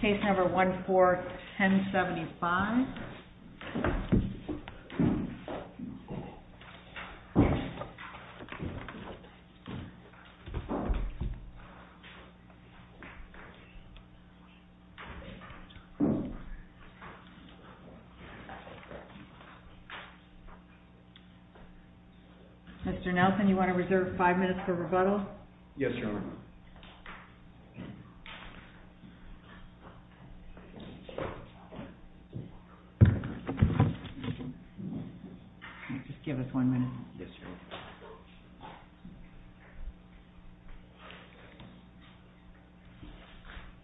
Case number 14-1075. Mr. Nelson, you want to reserve five minutes for rebuttal? Yes, Your Honor. Just give us one minute. Yes, Your Honor.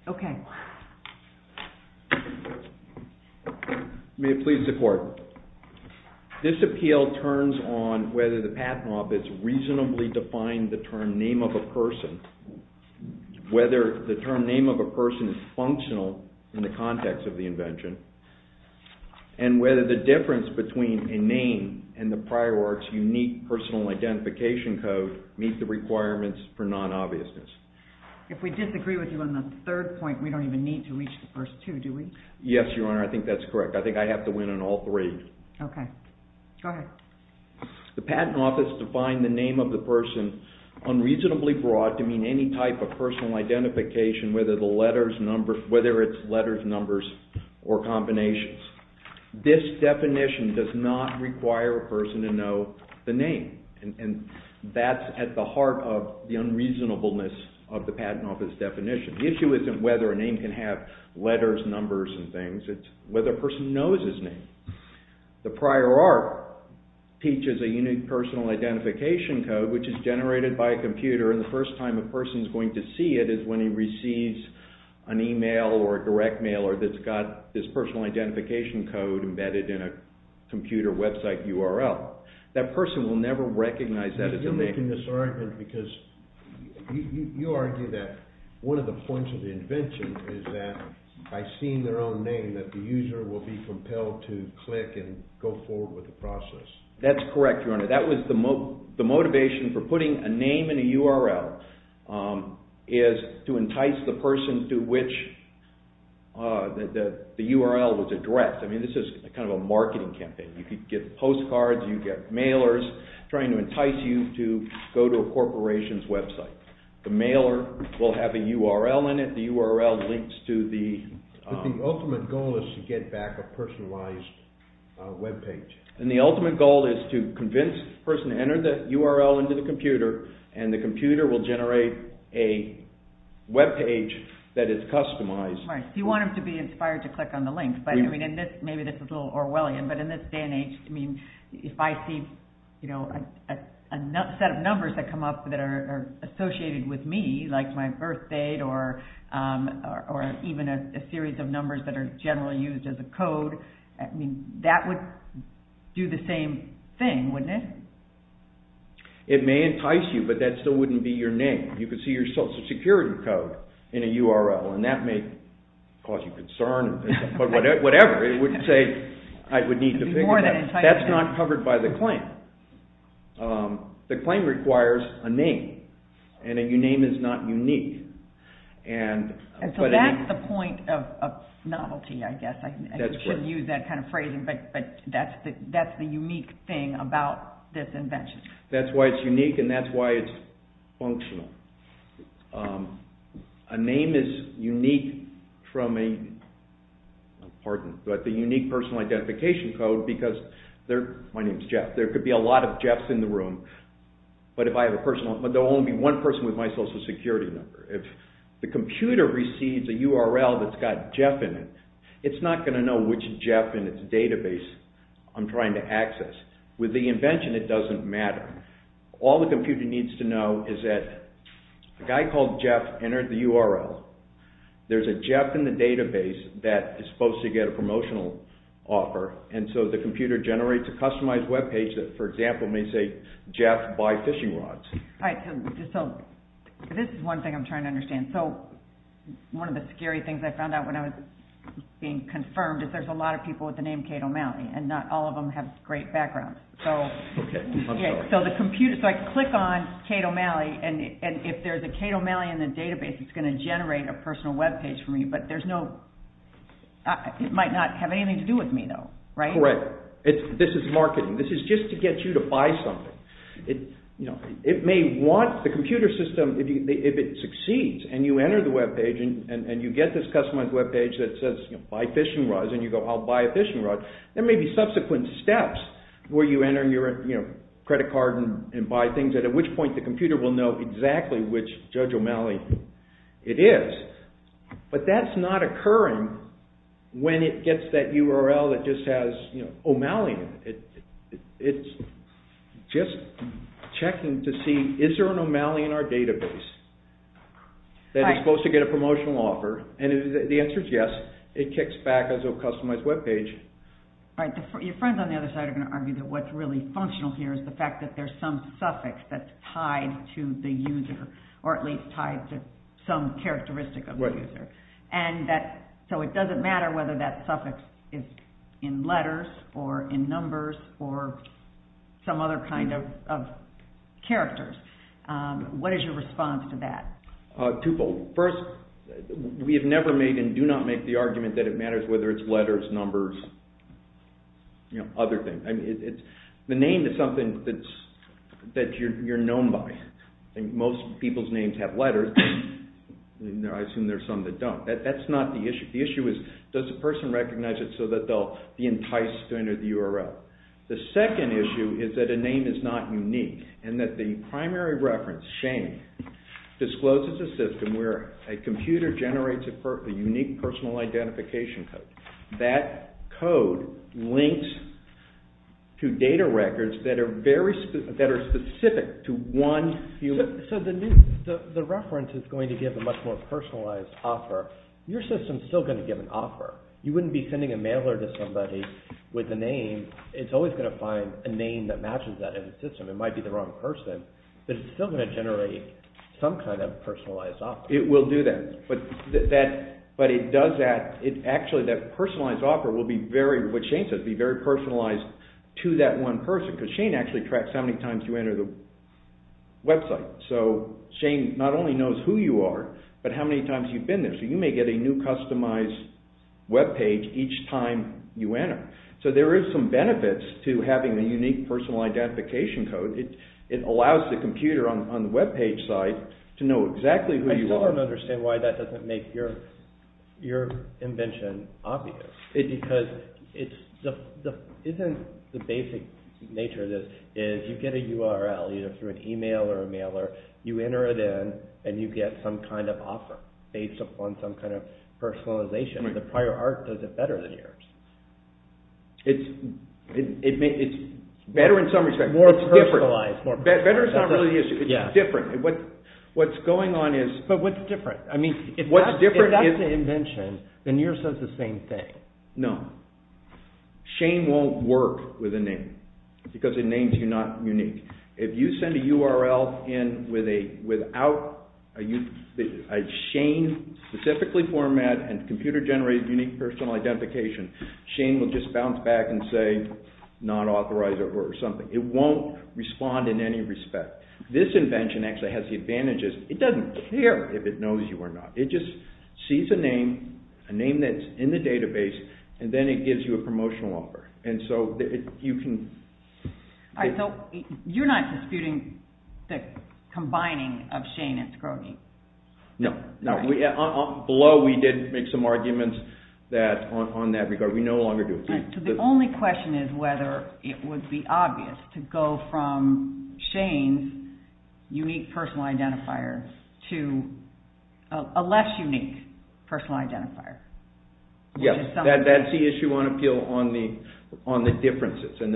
Okay. May it please the Court. This appeal turns on whether the path mob has reasonably defined the term name of a person, whether the term name of a person is functional in the context of the invention, and whether the difference between a name and the prior art's unique personal identification code meet the requirements for non-obviousness. If we disagree with you on the third point, we don't even need to reach the first two, do we? Yes, Your Honor, I think that's correct. I think I have to win on all three. Okay. Go ahead. The Patent Office defined the name of the person unreasonably broad to mean any type of personal identification, whether it's letters, numbers, or combinations. That's at the heart of the unreasonableness of the Patent Office definition. The issue isn't whether a name can have letters, numbers, and things. It's whether a person knows his name. The prior art teaches a unique personal identification code, which is generated by a computer, and the first time a person is going to see it is when he receives an email or a direct mail that's got this personal identification code embedded in a computer website URL. That person will never recognize that as a name. You're making this argument because you argue that one of the points of the invention is that by seeing their own name that the user will be compelled to click and go forward with the process. That's correct, Your Honor. That was the motivation for putting a name in a URL is to entice the person to which the URL was addressed. I mean, this is kind of a marketing campaign. You get postcards, you get mailers trying to entice you to go to a corporation's website. The mailer will have a URL in it. The URL links to the... But the ultimate goal is to get back a personalized webpage. And the ultimate goal is to convince the person to enter the URL into the computer, and the computer will generate a webpage that is customized. Right. You want them to be inspired to click on the link. Maybe this is a little Orwellian, but in this day and age, if I see a set of numbers that come up that are associated with me, like my birth date, or even a series of numbers that are generally used as a code, that would do the same thing, wouldn't it? It may entice you, but that still wouldn't be your name. You could see your social security code in a URL, and that may cause you concern, but whatever, it wouldn't say, I would need to figure that out. That's not covered by the claim. The claim requires a name, and a name is not unique. And so that's the point of novelty, I guess. I wouldn't use that kind of phrasing, but that's the unique thing about this invention. That's why it's unique, and that's why it's functional. A name is unique from a, pardon, but the unique personal identification code, because there, my name is Jeff, there could be a lot of Jeffs in the room, but if I have a personal, but there will only be one person with my social security number. If the computer receives a URL that's got Jeff in it, it's not going to know which Jeff in its database I'm trying to access. With the invention, it doesn't matter. All the computer needs to know is that a guy called Jeff entered the URL. There's a Jeff in the database that is supposed to get a promotional offer, and so the computer generates a customized web page that, for example, may say, Jeff, buy fishing rods. This is one thing I'm trying to understand. One of the scary things I found out when I was being confirmed is there's a lot of people with the name Kate O'Malley, and not all of them have great backgrounds. So I click on Kate O'Malley, and if there's a Kate O'Malley in the database, it's going to generate a personal web page for me, but there's no, it might not have anything to do with me, though, right? Correct. This is marketing. This is just to get you to buy something. It may want the computer system, if it succeeds, and you enter the web page, and you get this customized web page that says, buy fishing rods, and you go, I'll buy a fishing rod, there may be subsequent steps where you enter your credit card and buy things, at which point the computer will know exactly which Judge O'Malley it is. But that's not occurring when it gets that URL that just says O'Malley. It's just checking to see, is there an O'Malley in our database that is supposed to get a promotional offer? The answer is yes. It kicks back as a customized web page. Your friends on the other side are going to argue that what's really functional here is the fact that there's some suffix that's tied to the user, or at least tied to some characteristic of the user. So it doesn't matter whether that suffix is in letters, or in numbers, or some other kind of characters. What is your response to that? Twofold. First, we have never made and do not make the argument that it matters whether it's letters, numbers, other things. The name is something that you're known by. Most people's names have letters. I assume there are some that don't. That's not the issue. The issue is, does the person recognize it so that they'll be enticed to enter the URL? The second issue is that a name is not unique, and that the primary reference, Shane, discloses a system where a computer generates a unique personal identification code. That code links to data records that are specific to one human. So the reference is going to give a much more personalized offer. Your system is still going to give an offer. You wouldn't be sending a mailer to somebody with a name. It's always going to find a name that matches that in the system. It might be the wrong person, but it's still going to generate some kind of personalized offer. It will do that, but it does that. Actually, that personalized offer will be very, what Shane says, be very personalized to that one person, because Shane actually tracks how many times you enter the website. So Shane not only knows who you are, but how many times you've been there. So you may get a new customized webpage each time you enter. So there is some benefits to having a unique personal identification code. It allows the computer on the webpage site to know exactly who you are. I still don't understand why that doesn't make your invention obvious. Because isn't the basic nature of this is you get a URL, either through an email or a mailer, you enter it in, and you get some kind of offer based upon some kind of personalization. The prior art does it better than yours. It's better in some respects. More personalized. Better is not really the issue. It's just different. But what's different? If that's the invention, then yours does the same thing. No. Shane won't work with a name, because the names are not unique. If you send a URL in without a Shane-specifically format and computer-generated unique personal identification, Shane will just bounce back and say non-authorized or something. It won't respond in any respect. This invention actually has the advantages. It doesn't care if it knows you or not. It just sees a name, a name that's in the database, and then it gives you a promotional offer. And so you can... Alright, so you're not disputing the combining of Shane and Scroteney. No. Below, we did make some arguments on that regard. We no longer do. So the only question is whether it would be obvious to go from Shane's unique personal identifier to a less unique personal identifier. Yes, that's the issue on appeal on the differences. And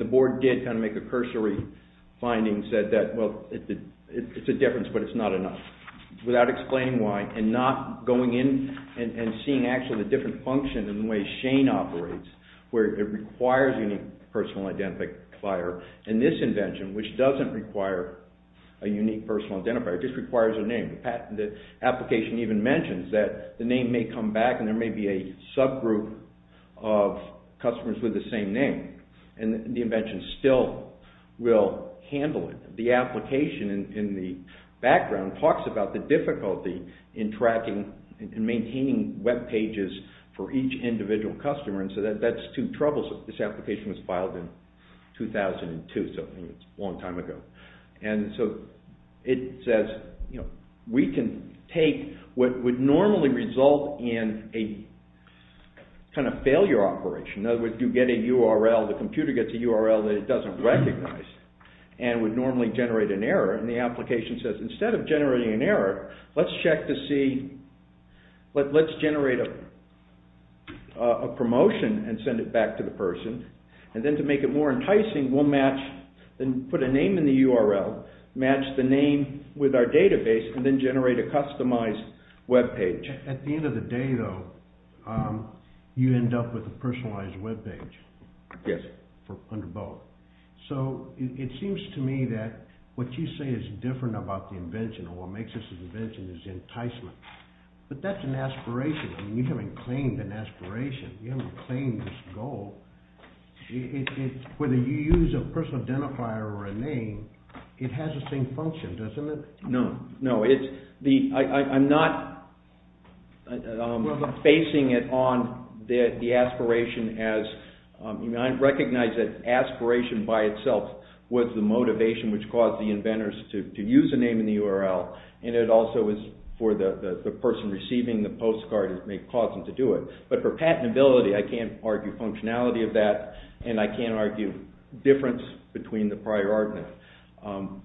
the board did kind of make a cursory finding, and said that, well, it's a difference, but it's not enough. Without explaining why, and not going in and seeing actually the different function and the way Shane operates, where it requires a unique personal identifier, and this invention, which doesn't require a unique personal identifier, it just requires a name. The application even mentions that the name may come back and there may be a subgroup of customers with the same name, and the invention still will handle it. The application in the background talks about the difficulty in tracking and maintaining web pages for each individual customer, and so that's two troubles. This application was filed in 2002, so it's a long time ago. And so it says, you know, we can take what would normally result in a kind of failure operation. In other words, you get a URL, the computer gets a URL that it doesn't recognize, and would normally generate an error, and the application says, instead of generating an error, let's check to see, let's generate a promotion and send it back to the person, and then to make it more enticing, we'll match, put a name in the URL, match the name with our database, and then generate a customized web page. At the end of the day, though, you end up with a personalized web page. Yes. Under both. So it seems to me that what you say is different about the invention, or what makes this an invention, is enticement. But that's an aspiration. I mean, you haven't claimed an aspiration. You haven't claimed this goal. Whether you use a personal identifier or a name, it has the same function, doesn't it? No, no. I'm not basing it on the aspiration as... I recognize that aspiration by itself was the motivation which caused the inventors to use a name in the URL, and it also was for the person receiving the postcard that may have caused them to do it. But for patentability, I can't argue functionality of that, and I can't argue difference between the prior argument.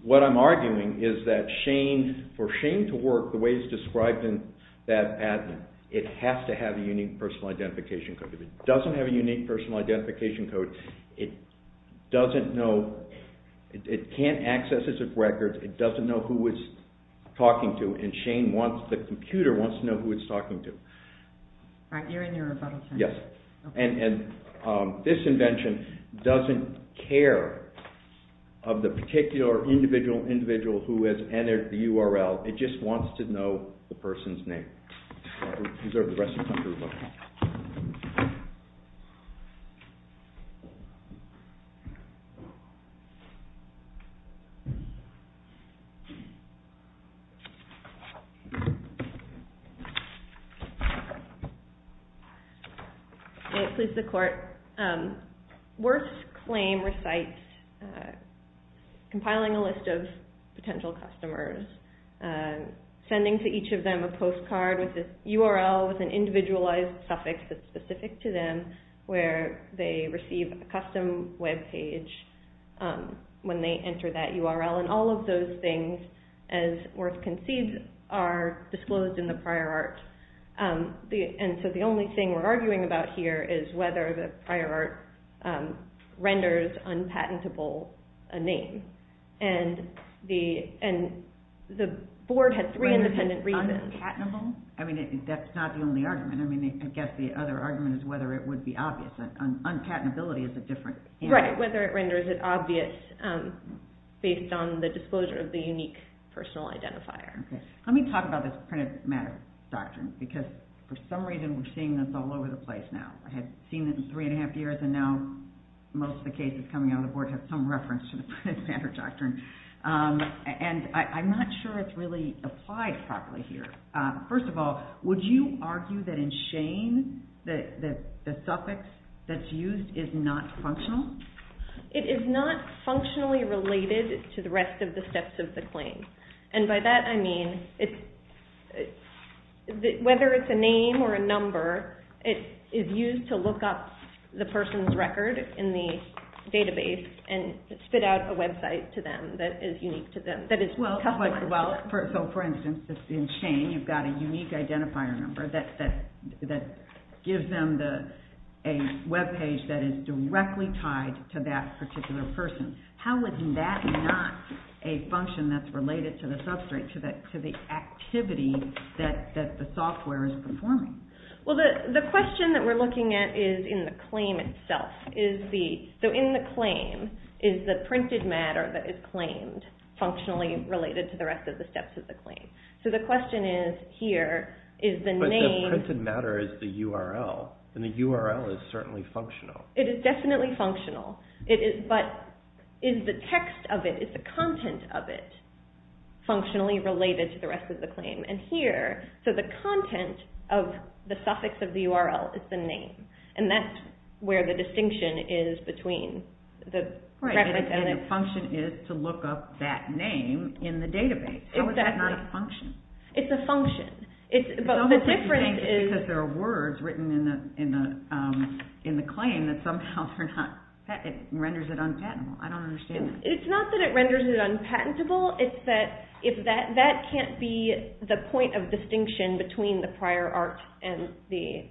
What I'm arguing is that for Shane to work the way it's described in that patent, it has to have a unique personal identification code. If it doesn't have a unique personal identification code, it can't access its records, it doesn't know who it's talking to, and the computer wants to know who it's talking to. You're in your rebuttal time. Yes. And this invention doesn't care of the particular individual individual who has entered the URL, it just wants to know the person's name. I'll reserve the rest of the time to reflect. May it please the Court. Worth's claim recites compiling a list of potential customers, sending to each of them a postcard with a URL with an individualized suffix that's specific to them where they receive a custom web page when they enter that URL, and all of those things, as Worth concedes, are disclosed in the prior art. And so the only thing we're arguing about here is whether the prior art renders unpatentable a name. And the board had three independent reasons. Unpatentable? I mean, that's not the only argument. I guess the other argument is whether it would be obvious. Unpatentability is a different answer. Right, whether it renders it obvious based on the disclosure of the unique personal identifier. Let me talk about this printed matter doctrine, because for some reason we're seeing this all over the place now. I had seen it in three and a half years, and now most of the cases coming out of the board have some reference to the printed matter doctrine. And I'm not sure it's really applied properly here. First of all, would you argue that in Shane the suffix that's used is not functional? It is not functionally related to the rest of the steps of the claim. And by that I mean whether it's a name or a number, it is used to look up the person's record in the database and spit out a website to them that is unique to them, that is customary. For instance, in Shane you've got a unique identifier number that gives them a web page that is directly tied to that particular person. How is that not a function that's related to the substrate, to the activity that the software is performing? Well, the question that we're looking at is in the claim itself. So in the claim is the printed matter that is claimed functionally related to the rest of the steps of the claim? So the question is here, is the name... But the printed matter is the URL, and the URL is certainly functional. It is definitely functional. But is the text of it, is the content of it, functionally related to the rest of the claim? And here, so the content of the suffix of the URL is the name, and that's where the distinction is between the preference... Right, and the function is to look up that name in the database. Exactly. How is that not a function? It's a function, but the difference is... It's almost like you think it's because there are words written in the claim that somehow renders it unpatentable. I don't understand that. It's not that it renders it unpatentable. It's that that can't be the point of distinction between the prior art and the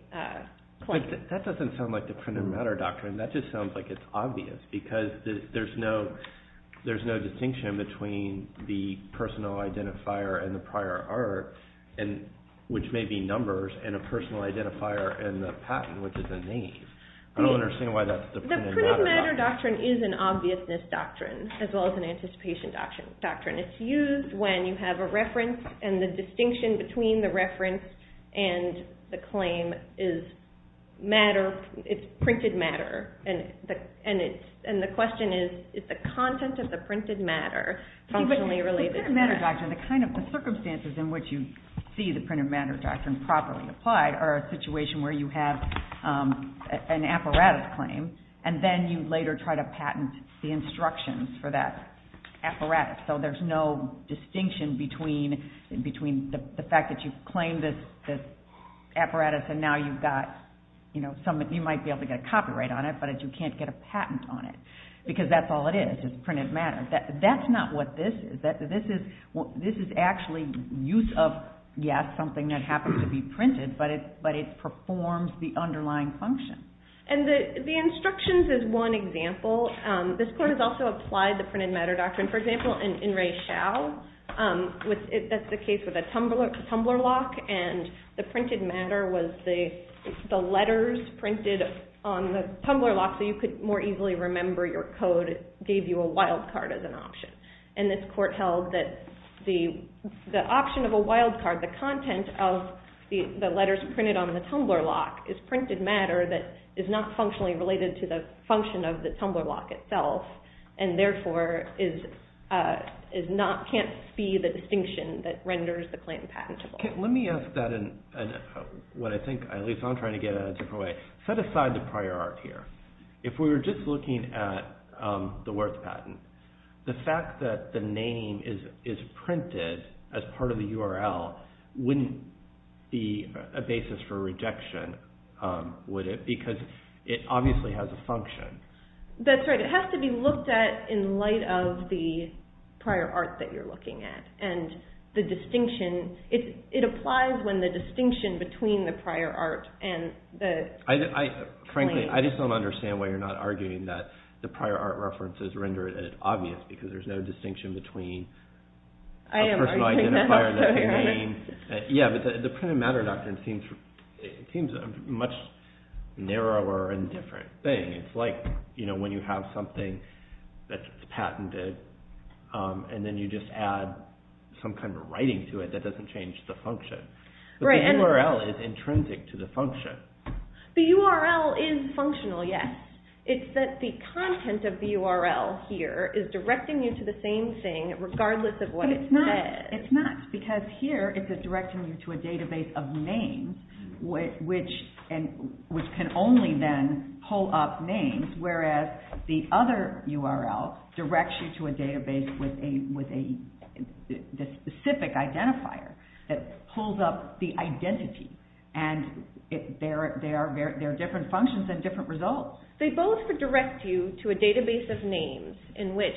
claim. That doesn't sound like the printed matter doctrine. That just sounds like it's obvious, because there's no distinction between the personal identifier and the prior art, which may be numbers, and a personal identifier and the patent, which is a name. I don't understand why that's the printed matter doctrine. The printed matter doctrine is an obviousness doctrine, as well as an anticipation doctrine. It's used when you have a reference, and the distinction between the reference and the claim is matter. It's printed matter, and the question is, is the content of the printed matter functionally related to that? The printed matter doctrine, the kind of circumstances in which you see the printed matter doctrine properly applied, are a situation where you have an apparatus claim, and then you later try to patent the instructions for that apparatus. So there's no distinction between the fact that you've claimed this apparatus, and now you might be able to get a copyright on it, but you can't get a patent on it, because that's all it is, is printed matter. That's not what this is. This is actually use of, yes, something that happens to be printed, but it performs the underlying function. And the instructions is one example. This court has also applied the printed matter doctrine. For example, in In Re Chau, that's the case with a tumbler lock, and the printed matter was the letters printed on the tumbler lock, so you could more easily remember your code. It gave you a wild card as an option. And this court held that the option of a wild card, the content of the letters printed on the tumbler lock, is printed matter that is not functionally related to the function of the tumbler lock itself, and therefore can't see the distinction that renders the claim patentable. Let me ask that in what I think, at least I'm trying to get at a different way. Set aside the prior art here. If we were just looking at the words patent, the fact that the name is printed as part of the URL wouldn't be a basis for rejection, would it? Because it obviously has a function. That's right. It has to be looked at in light of the prior art that you're looking at. And the distinction, it applies when the distinction between the prior art and the claim. Frankly, I just don't understand why you're not arguing that the prior art references render it obvious because there's no distinction between a personal identifier and a name. Yeah, but the printed matter doctrine seems a much narrower and different thing. It's like when you have something that's patented and then you just add some kind of writing to it that doesn't change the function. But the URL is intrinsic to the function. The URL is functional, yes. It's that the content of the URL here is directing you to the same thing, regardless of what it says. It's not, because here it's directing you to a database of names, which can only then pull up names, whereas the other URL directs you to a database with a specific identifier that pulls up the identity. And there are different functions and different results. They both direct you to a database of names in which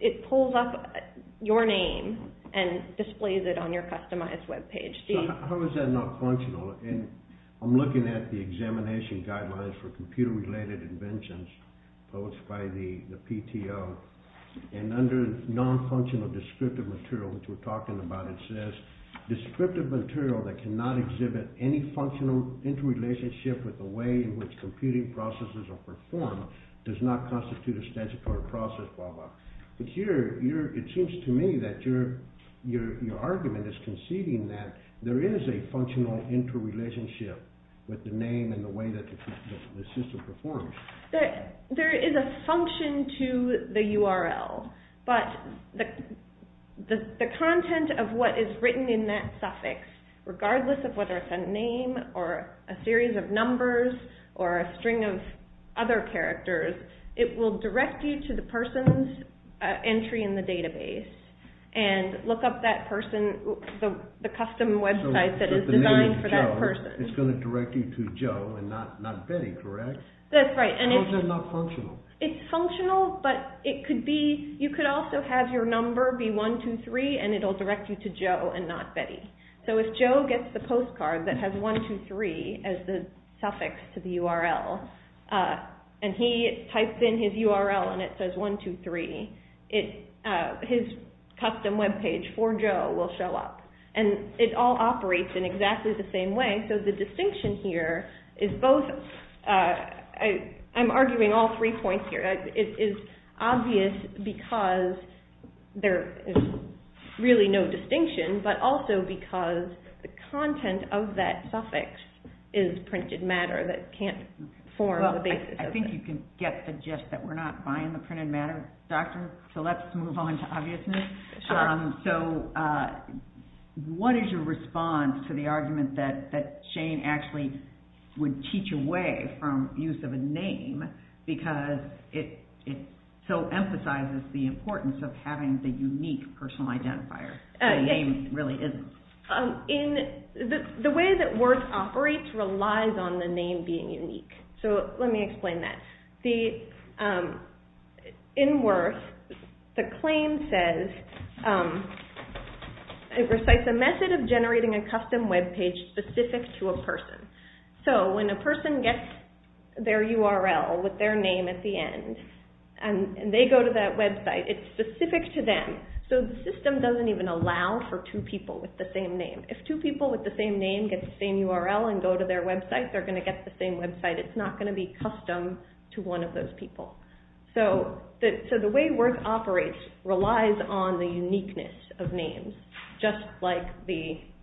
it pulls up your name and displays it on your customized web page. So how is that not functional? I'm looking at the examination guidelines for computer-related inventions published by the PTO, and under non-functional descriptive material, which we're talking about, it says, Descriptive material that cannot exhibit any functional interrelationship with the way in which computing processes are performed does not constitute a statutory process, blah, blah. It seems to me that your argument is conceding that there is a functional interrelationship with the name and the way that the system performs. There is a function to the URL, but the content of what is written in that suffix, regardless of whether it's a name or a series of numbers or a string of other characters, it will direct you to the person's entry in the database and look up that person, the custom website that is designed for that person. It's going to direct you to Joe and not Betty, correct? That's right. How is that not functional? It's functional, but you could also have your number be 123 and it will direct you to Joe and not Betty. So if Joe gets the postcard that has 123 as the suffix to the URL and he types in his URL and it says 123, his custom webpage for Joe will show up. And it all operates in exactly the same way, and so the distinction here is both. I'm arguing all three points here. It is obvious because there is really no distinction, but also because the content of that suffix is printed matter that can't form the basis of it. I think you can get the gist that we're not buying the printed matter, Doctor, so let's move on to obviousness. So what is your response to the argument that Shane actually would teach away from use of a name because it so emphasizes the importance of having the unique personal identifier? The name really isn't. The way that WIRTH operates relies on the name being unique. So let me explain that. In WIRTH, the claim says it recites a method of generating a custom webpage specific to a person. So when a person gets their URL with their name at the end and they go to that website, it's specific to them. So the system doesn't even allow for two people with the same name. If two people with the same name get the same URL and go to their website, they're going to get the same website. It's not going to be custom to one of those people. So the way WIRTH operates relies on the uniqueness of names, just like Shane.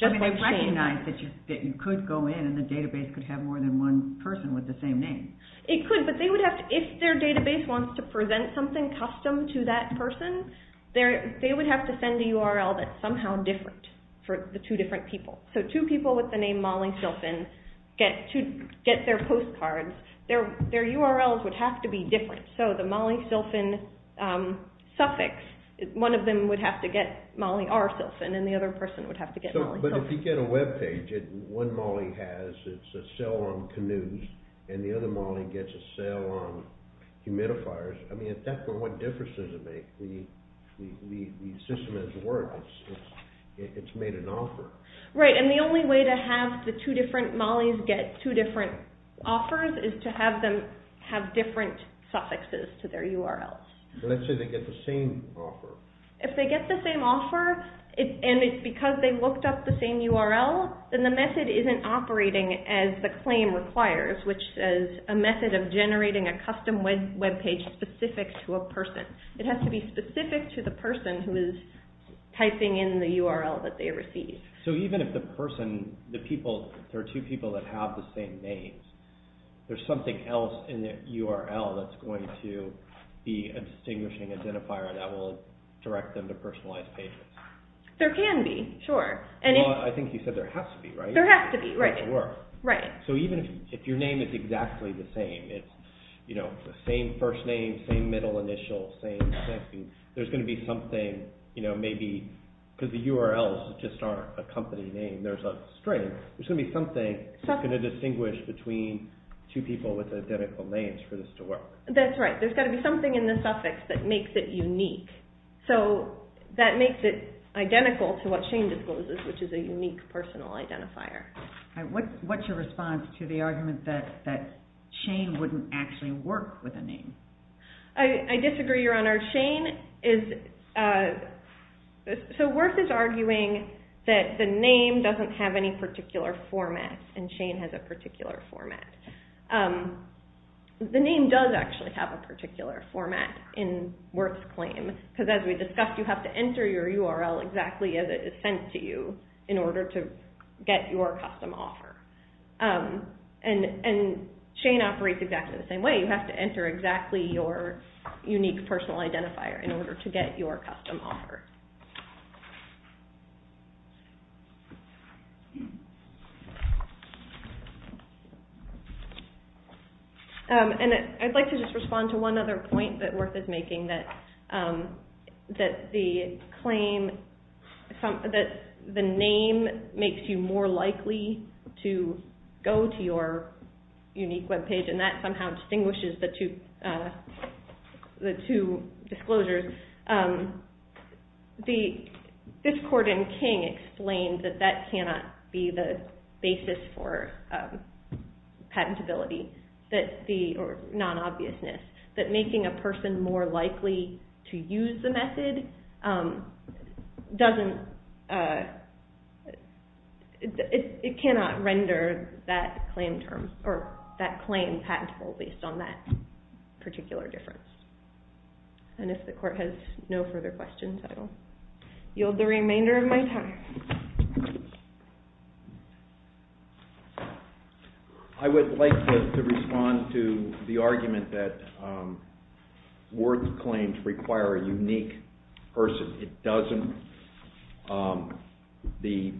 They recognize that you could go in and the database could have more than one person with the same name. It could, but if their database wants to present something custom to that person, they would have to send a URL that's somehow different for the two different people. So two people with the name Mollie Silfen get their postcards. Their URLs would have to be different. So the Mollie Silfen suffix, one of them would have to get Mollie R. Silfen and the other person would have to get Mollie Silfen. But if you get a webpage, one Mollie has, it's a sail on canoes, and the other Mollie gets a sail on humidifiers. I mean, at that point, what difference does it make? The system is WIRTH. It's made an offer. Right, and the only way to have the two different Mollies get two different offers is to have them have different suffixes to their URLs. Let's say they get the same offer. If they get the same offer and it's because they looked up the same URL, then the method isn't operating as the claim requires, which is a method of generating a custom webpage specific to a person. It has to be specific to the person who is typing in the URL that they receive. So even if the person, the people, there are two people that have the same names, there's something else in the URL that's going to be a distinguishing identifier that will direct them to personalized pages. There can be, sure. Well, I think you said there has to be, right? There has to be, right. So even if your name is exactly the same, it's the same first name, same middle initial, same thing, there's going to be something, you know, maybe, because the URLs just aren't a company name, there's a string, there's going to be something that's going to distinguish between two people with identical names for this to work. That's right. There's got to be something in the suffix that makes it unique. So that makes it identical to what Shane discloses, which is a unique personal identifier. What's your response to the argument that Shane wouldn't actually work with a name? I disagree, Your Honor. Shane is, so WIRTH is arguing that the name doesn't have any particular format and Shane has a particular format. The name does actually have a particular format in WIRTH's claim, because as we discussed, you have to enter your URL exactly as it is sent to you in order to get your custom offer. And Shane operates exactly the same way. You have to enter exactly your unique personal identifier in order to get your custom offer. And I'd like to just respond to one other point that WIRTH is making, that the name makes you more likely to go to your unique web page and that somehow distinguishes the two disclosures. This court in King explained that that cannot be the basis for patentability, or non-obviousness, that making a person more likely to use the method cannot render that claim patentable based on that particular difference. And if the court has no further questions, I will yield the remainder of my time. I would like to respond to the argument that WIRTH's claims require a unique person. It doesn't. This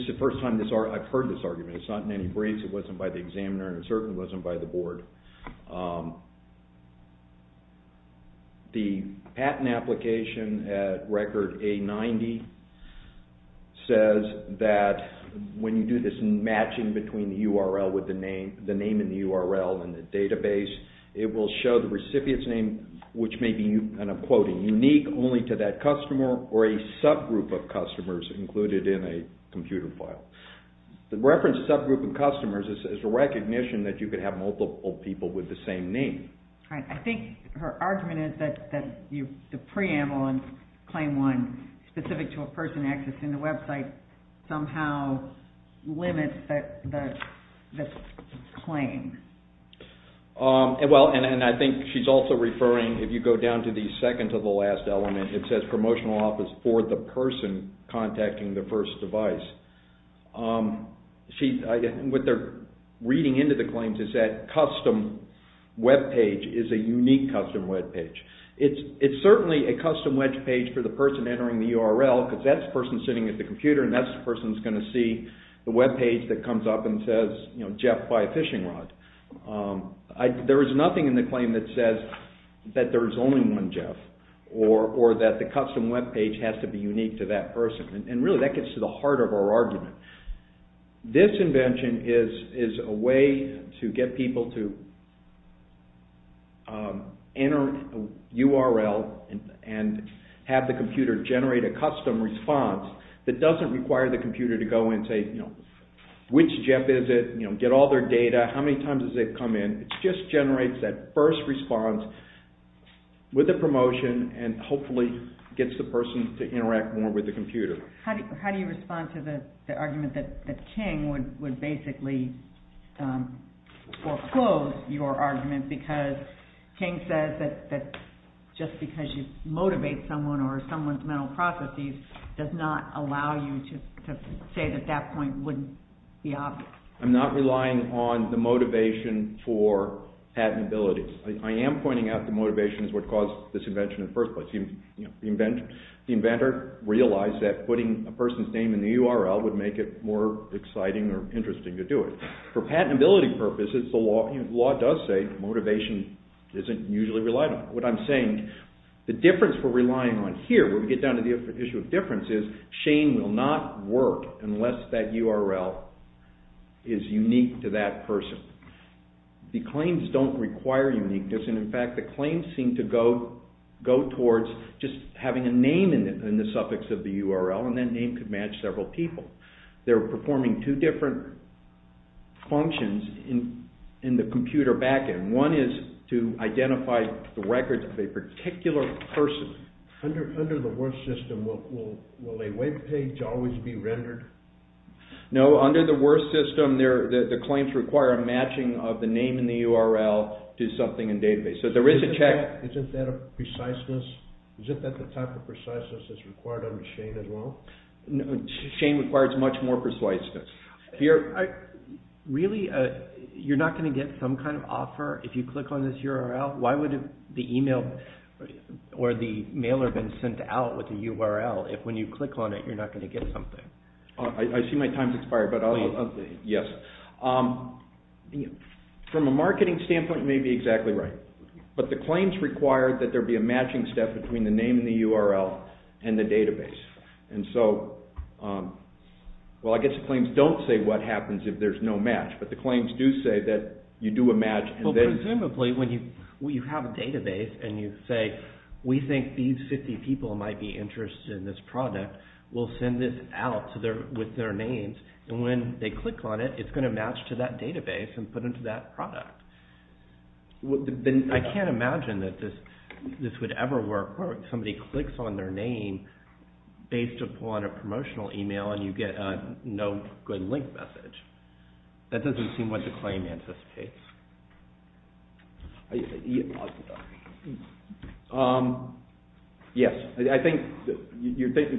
is the first time I've heard this argument. It's not in any briefs, it wasn't by the examiner, and it certainly wasn't by the board. The patent application at Record A-90 says that when you do this matching between the name in the URL and the database, it will show the recipient's name, which may be, and I'm quoting, unique only to that customer or a subgroup of customers included in a computer file. The reference subgroup of customers is a recognition that you could have multiple people with the same name. I think her argument is that the preamble on Claim 1, specific to a person accessing the website, somehow limits the claim. And I think she's also referring, if you go down to the second to the last element, it says promotional office for the person contacting the first device. What they're reading into the claims is that custom web page is a unique custom web page. It's certainly a custom web page for the person entering the URL, because that's the person sitting at the computer and that's the person who's going to see the web page that comes up and says, you know, Jeff, buy a fishing rod. There is nothing in the claim that says that there is only one Jeff, or that the custom web page has to be unique to that person. And really that gets to the heart of our argument. This invention is a way to get people to enter a URL and have the computer generate a custom response that doesn't require the computer to go and say, you know, which Jeff is it, you know, get all their data, how many times has it come in. It just generates that first response with a promotion and hopefully gets the person to interact more with the computer. How do you respond to the argument that King would basically foreclose your argument because King says that just because you motivate someone or someone's mental processes does not allow you to say that that point wouldn't be obvious. I'm not relying on the motivation for patentability. I am pointing out that motivation is what caused this invention in the first place. The inventor realized that putting a person's name in the URL would make it more exciting or interesting to do it. For patentability purposes, the law does say motivation isn't usually relied on. What I'm saying, the difference we're relying on here, when we get down to the issue of difference, is Shane will not work unless that URL is unique to that person. The claims don't require uniqueness. In fact, the claims seem to go towards just having a name in the suffix of the URL and that name could match several people. They're performing two different functions in the computer backend. One is to identify the records of a particular person. No, under the worst system, the claims require a matching of the name in the URL to something in database. So there is a check. Shane requires much more preciseness. Really, you're not going to get some kind of offer if you click on this URL? Why would the email or the mailer been sent out with the URL if when you click on it you're not going to get something? I see my time has expired. From a marketing standpoint, you may be exactly right. But the claims require that there be a matching step between the name in the URL and the database. I guess the claims don't say what happens if there's no match, but the claims do say that you do a match. Presumably, when you have a database and you say, we think these 50 people might be interested in this product, we'll send this out with their names, and when they click on it, it's going to match to that database and put into that product. I can't imagine that this would ever work where somebody clicks on their name based upon a promotional email and you get a no good link message. That doesn't seem what the claim anticipates. Yes. I think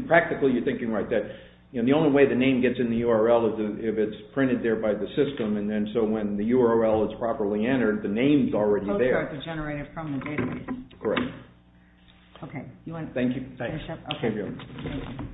practically you're thinking like that. The only way the name gets in the URL is if it's printed there by the system, and then so when the URL is properly entered, the name's already there. So you have to generate it from the database. Correct. OK. You want to finish up? Thank you. OK. Great.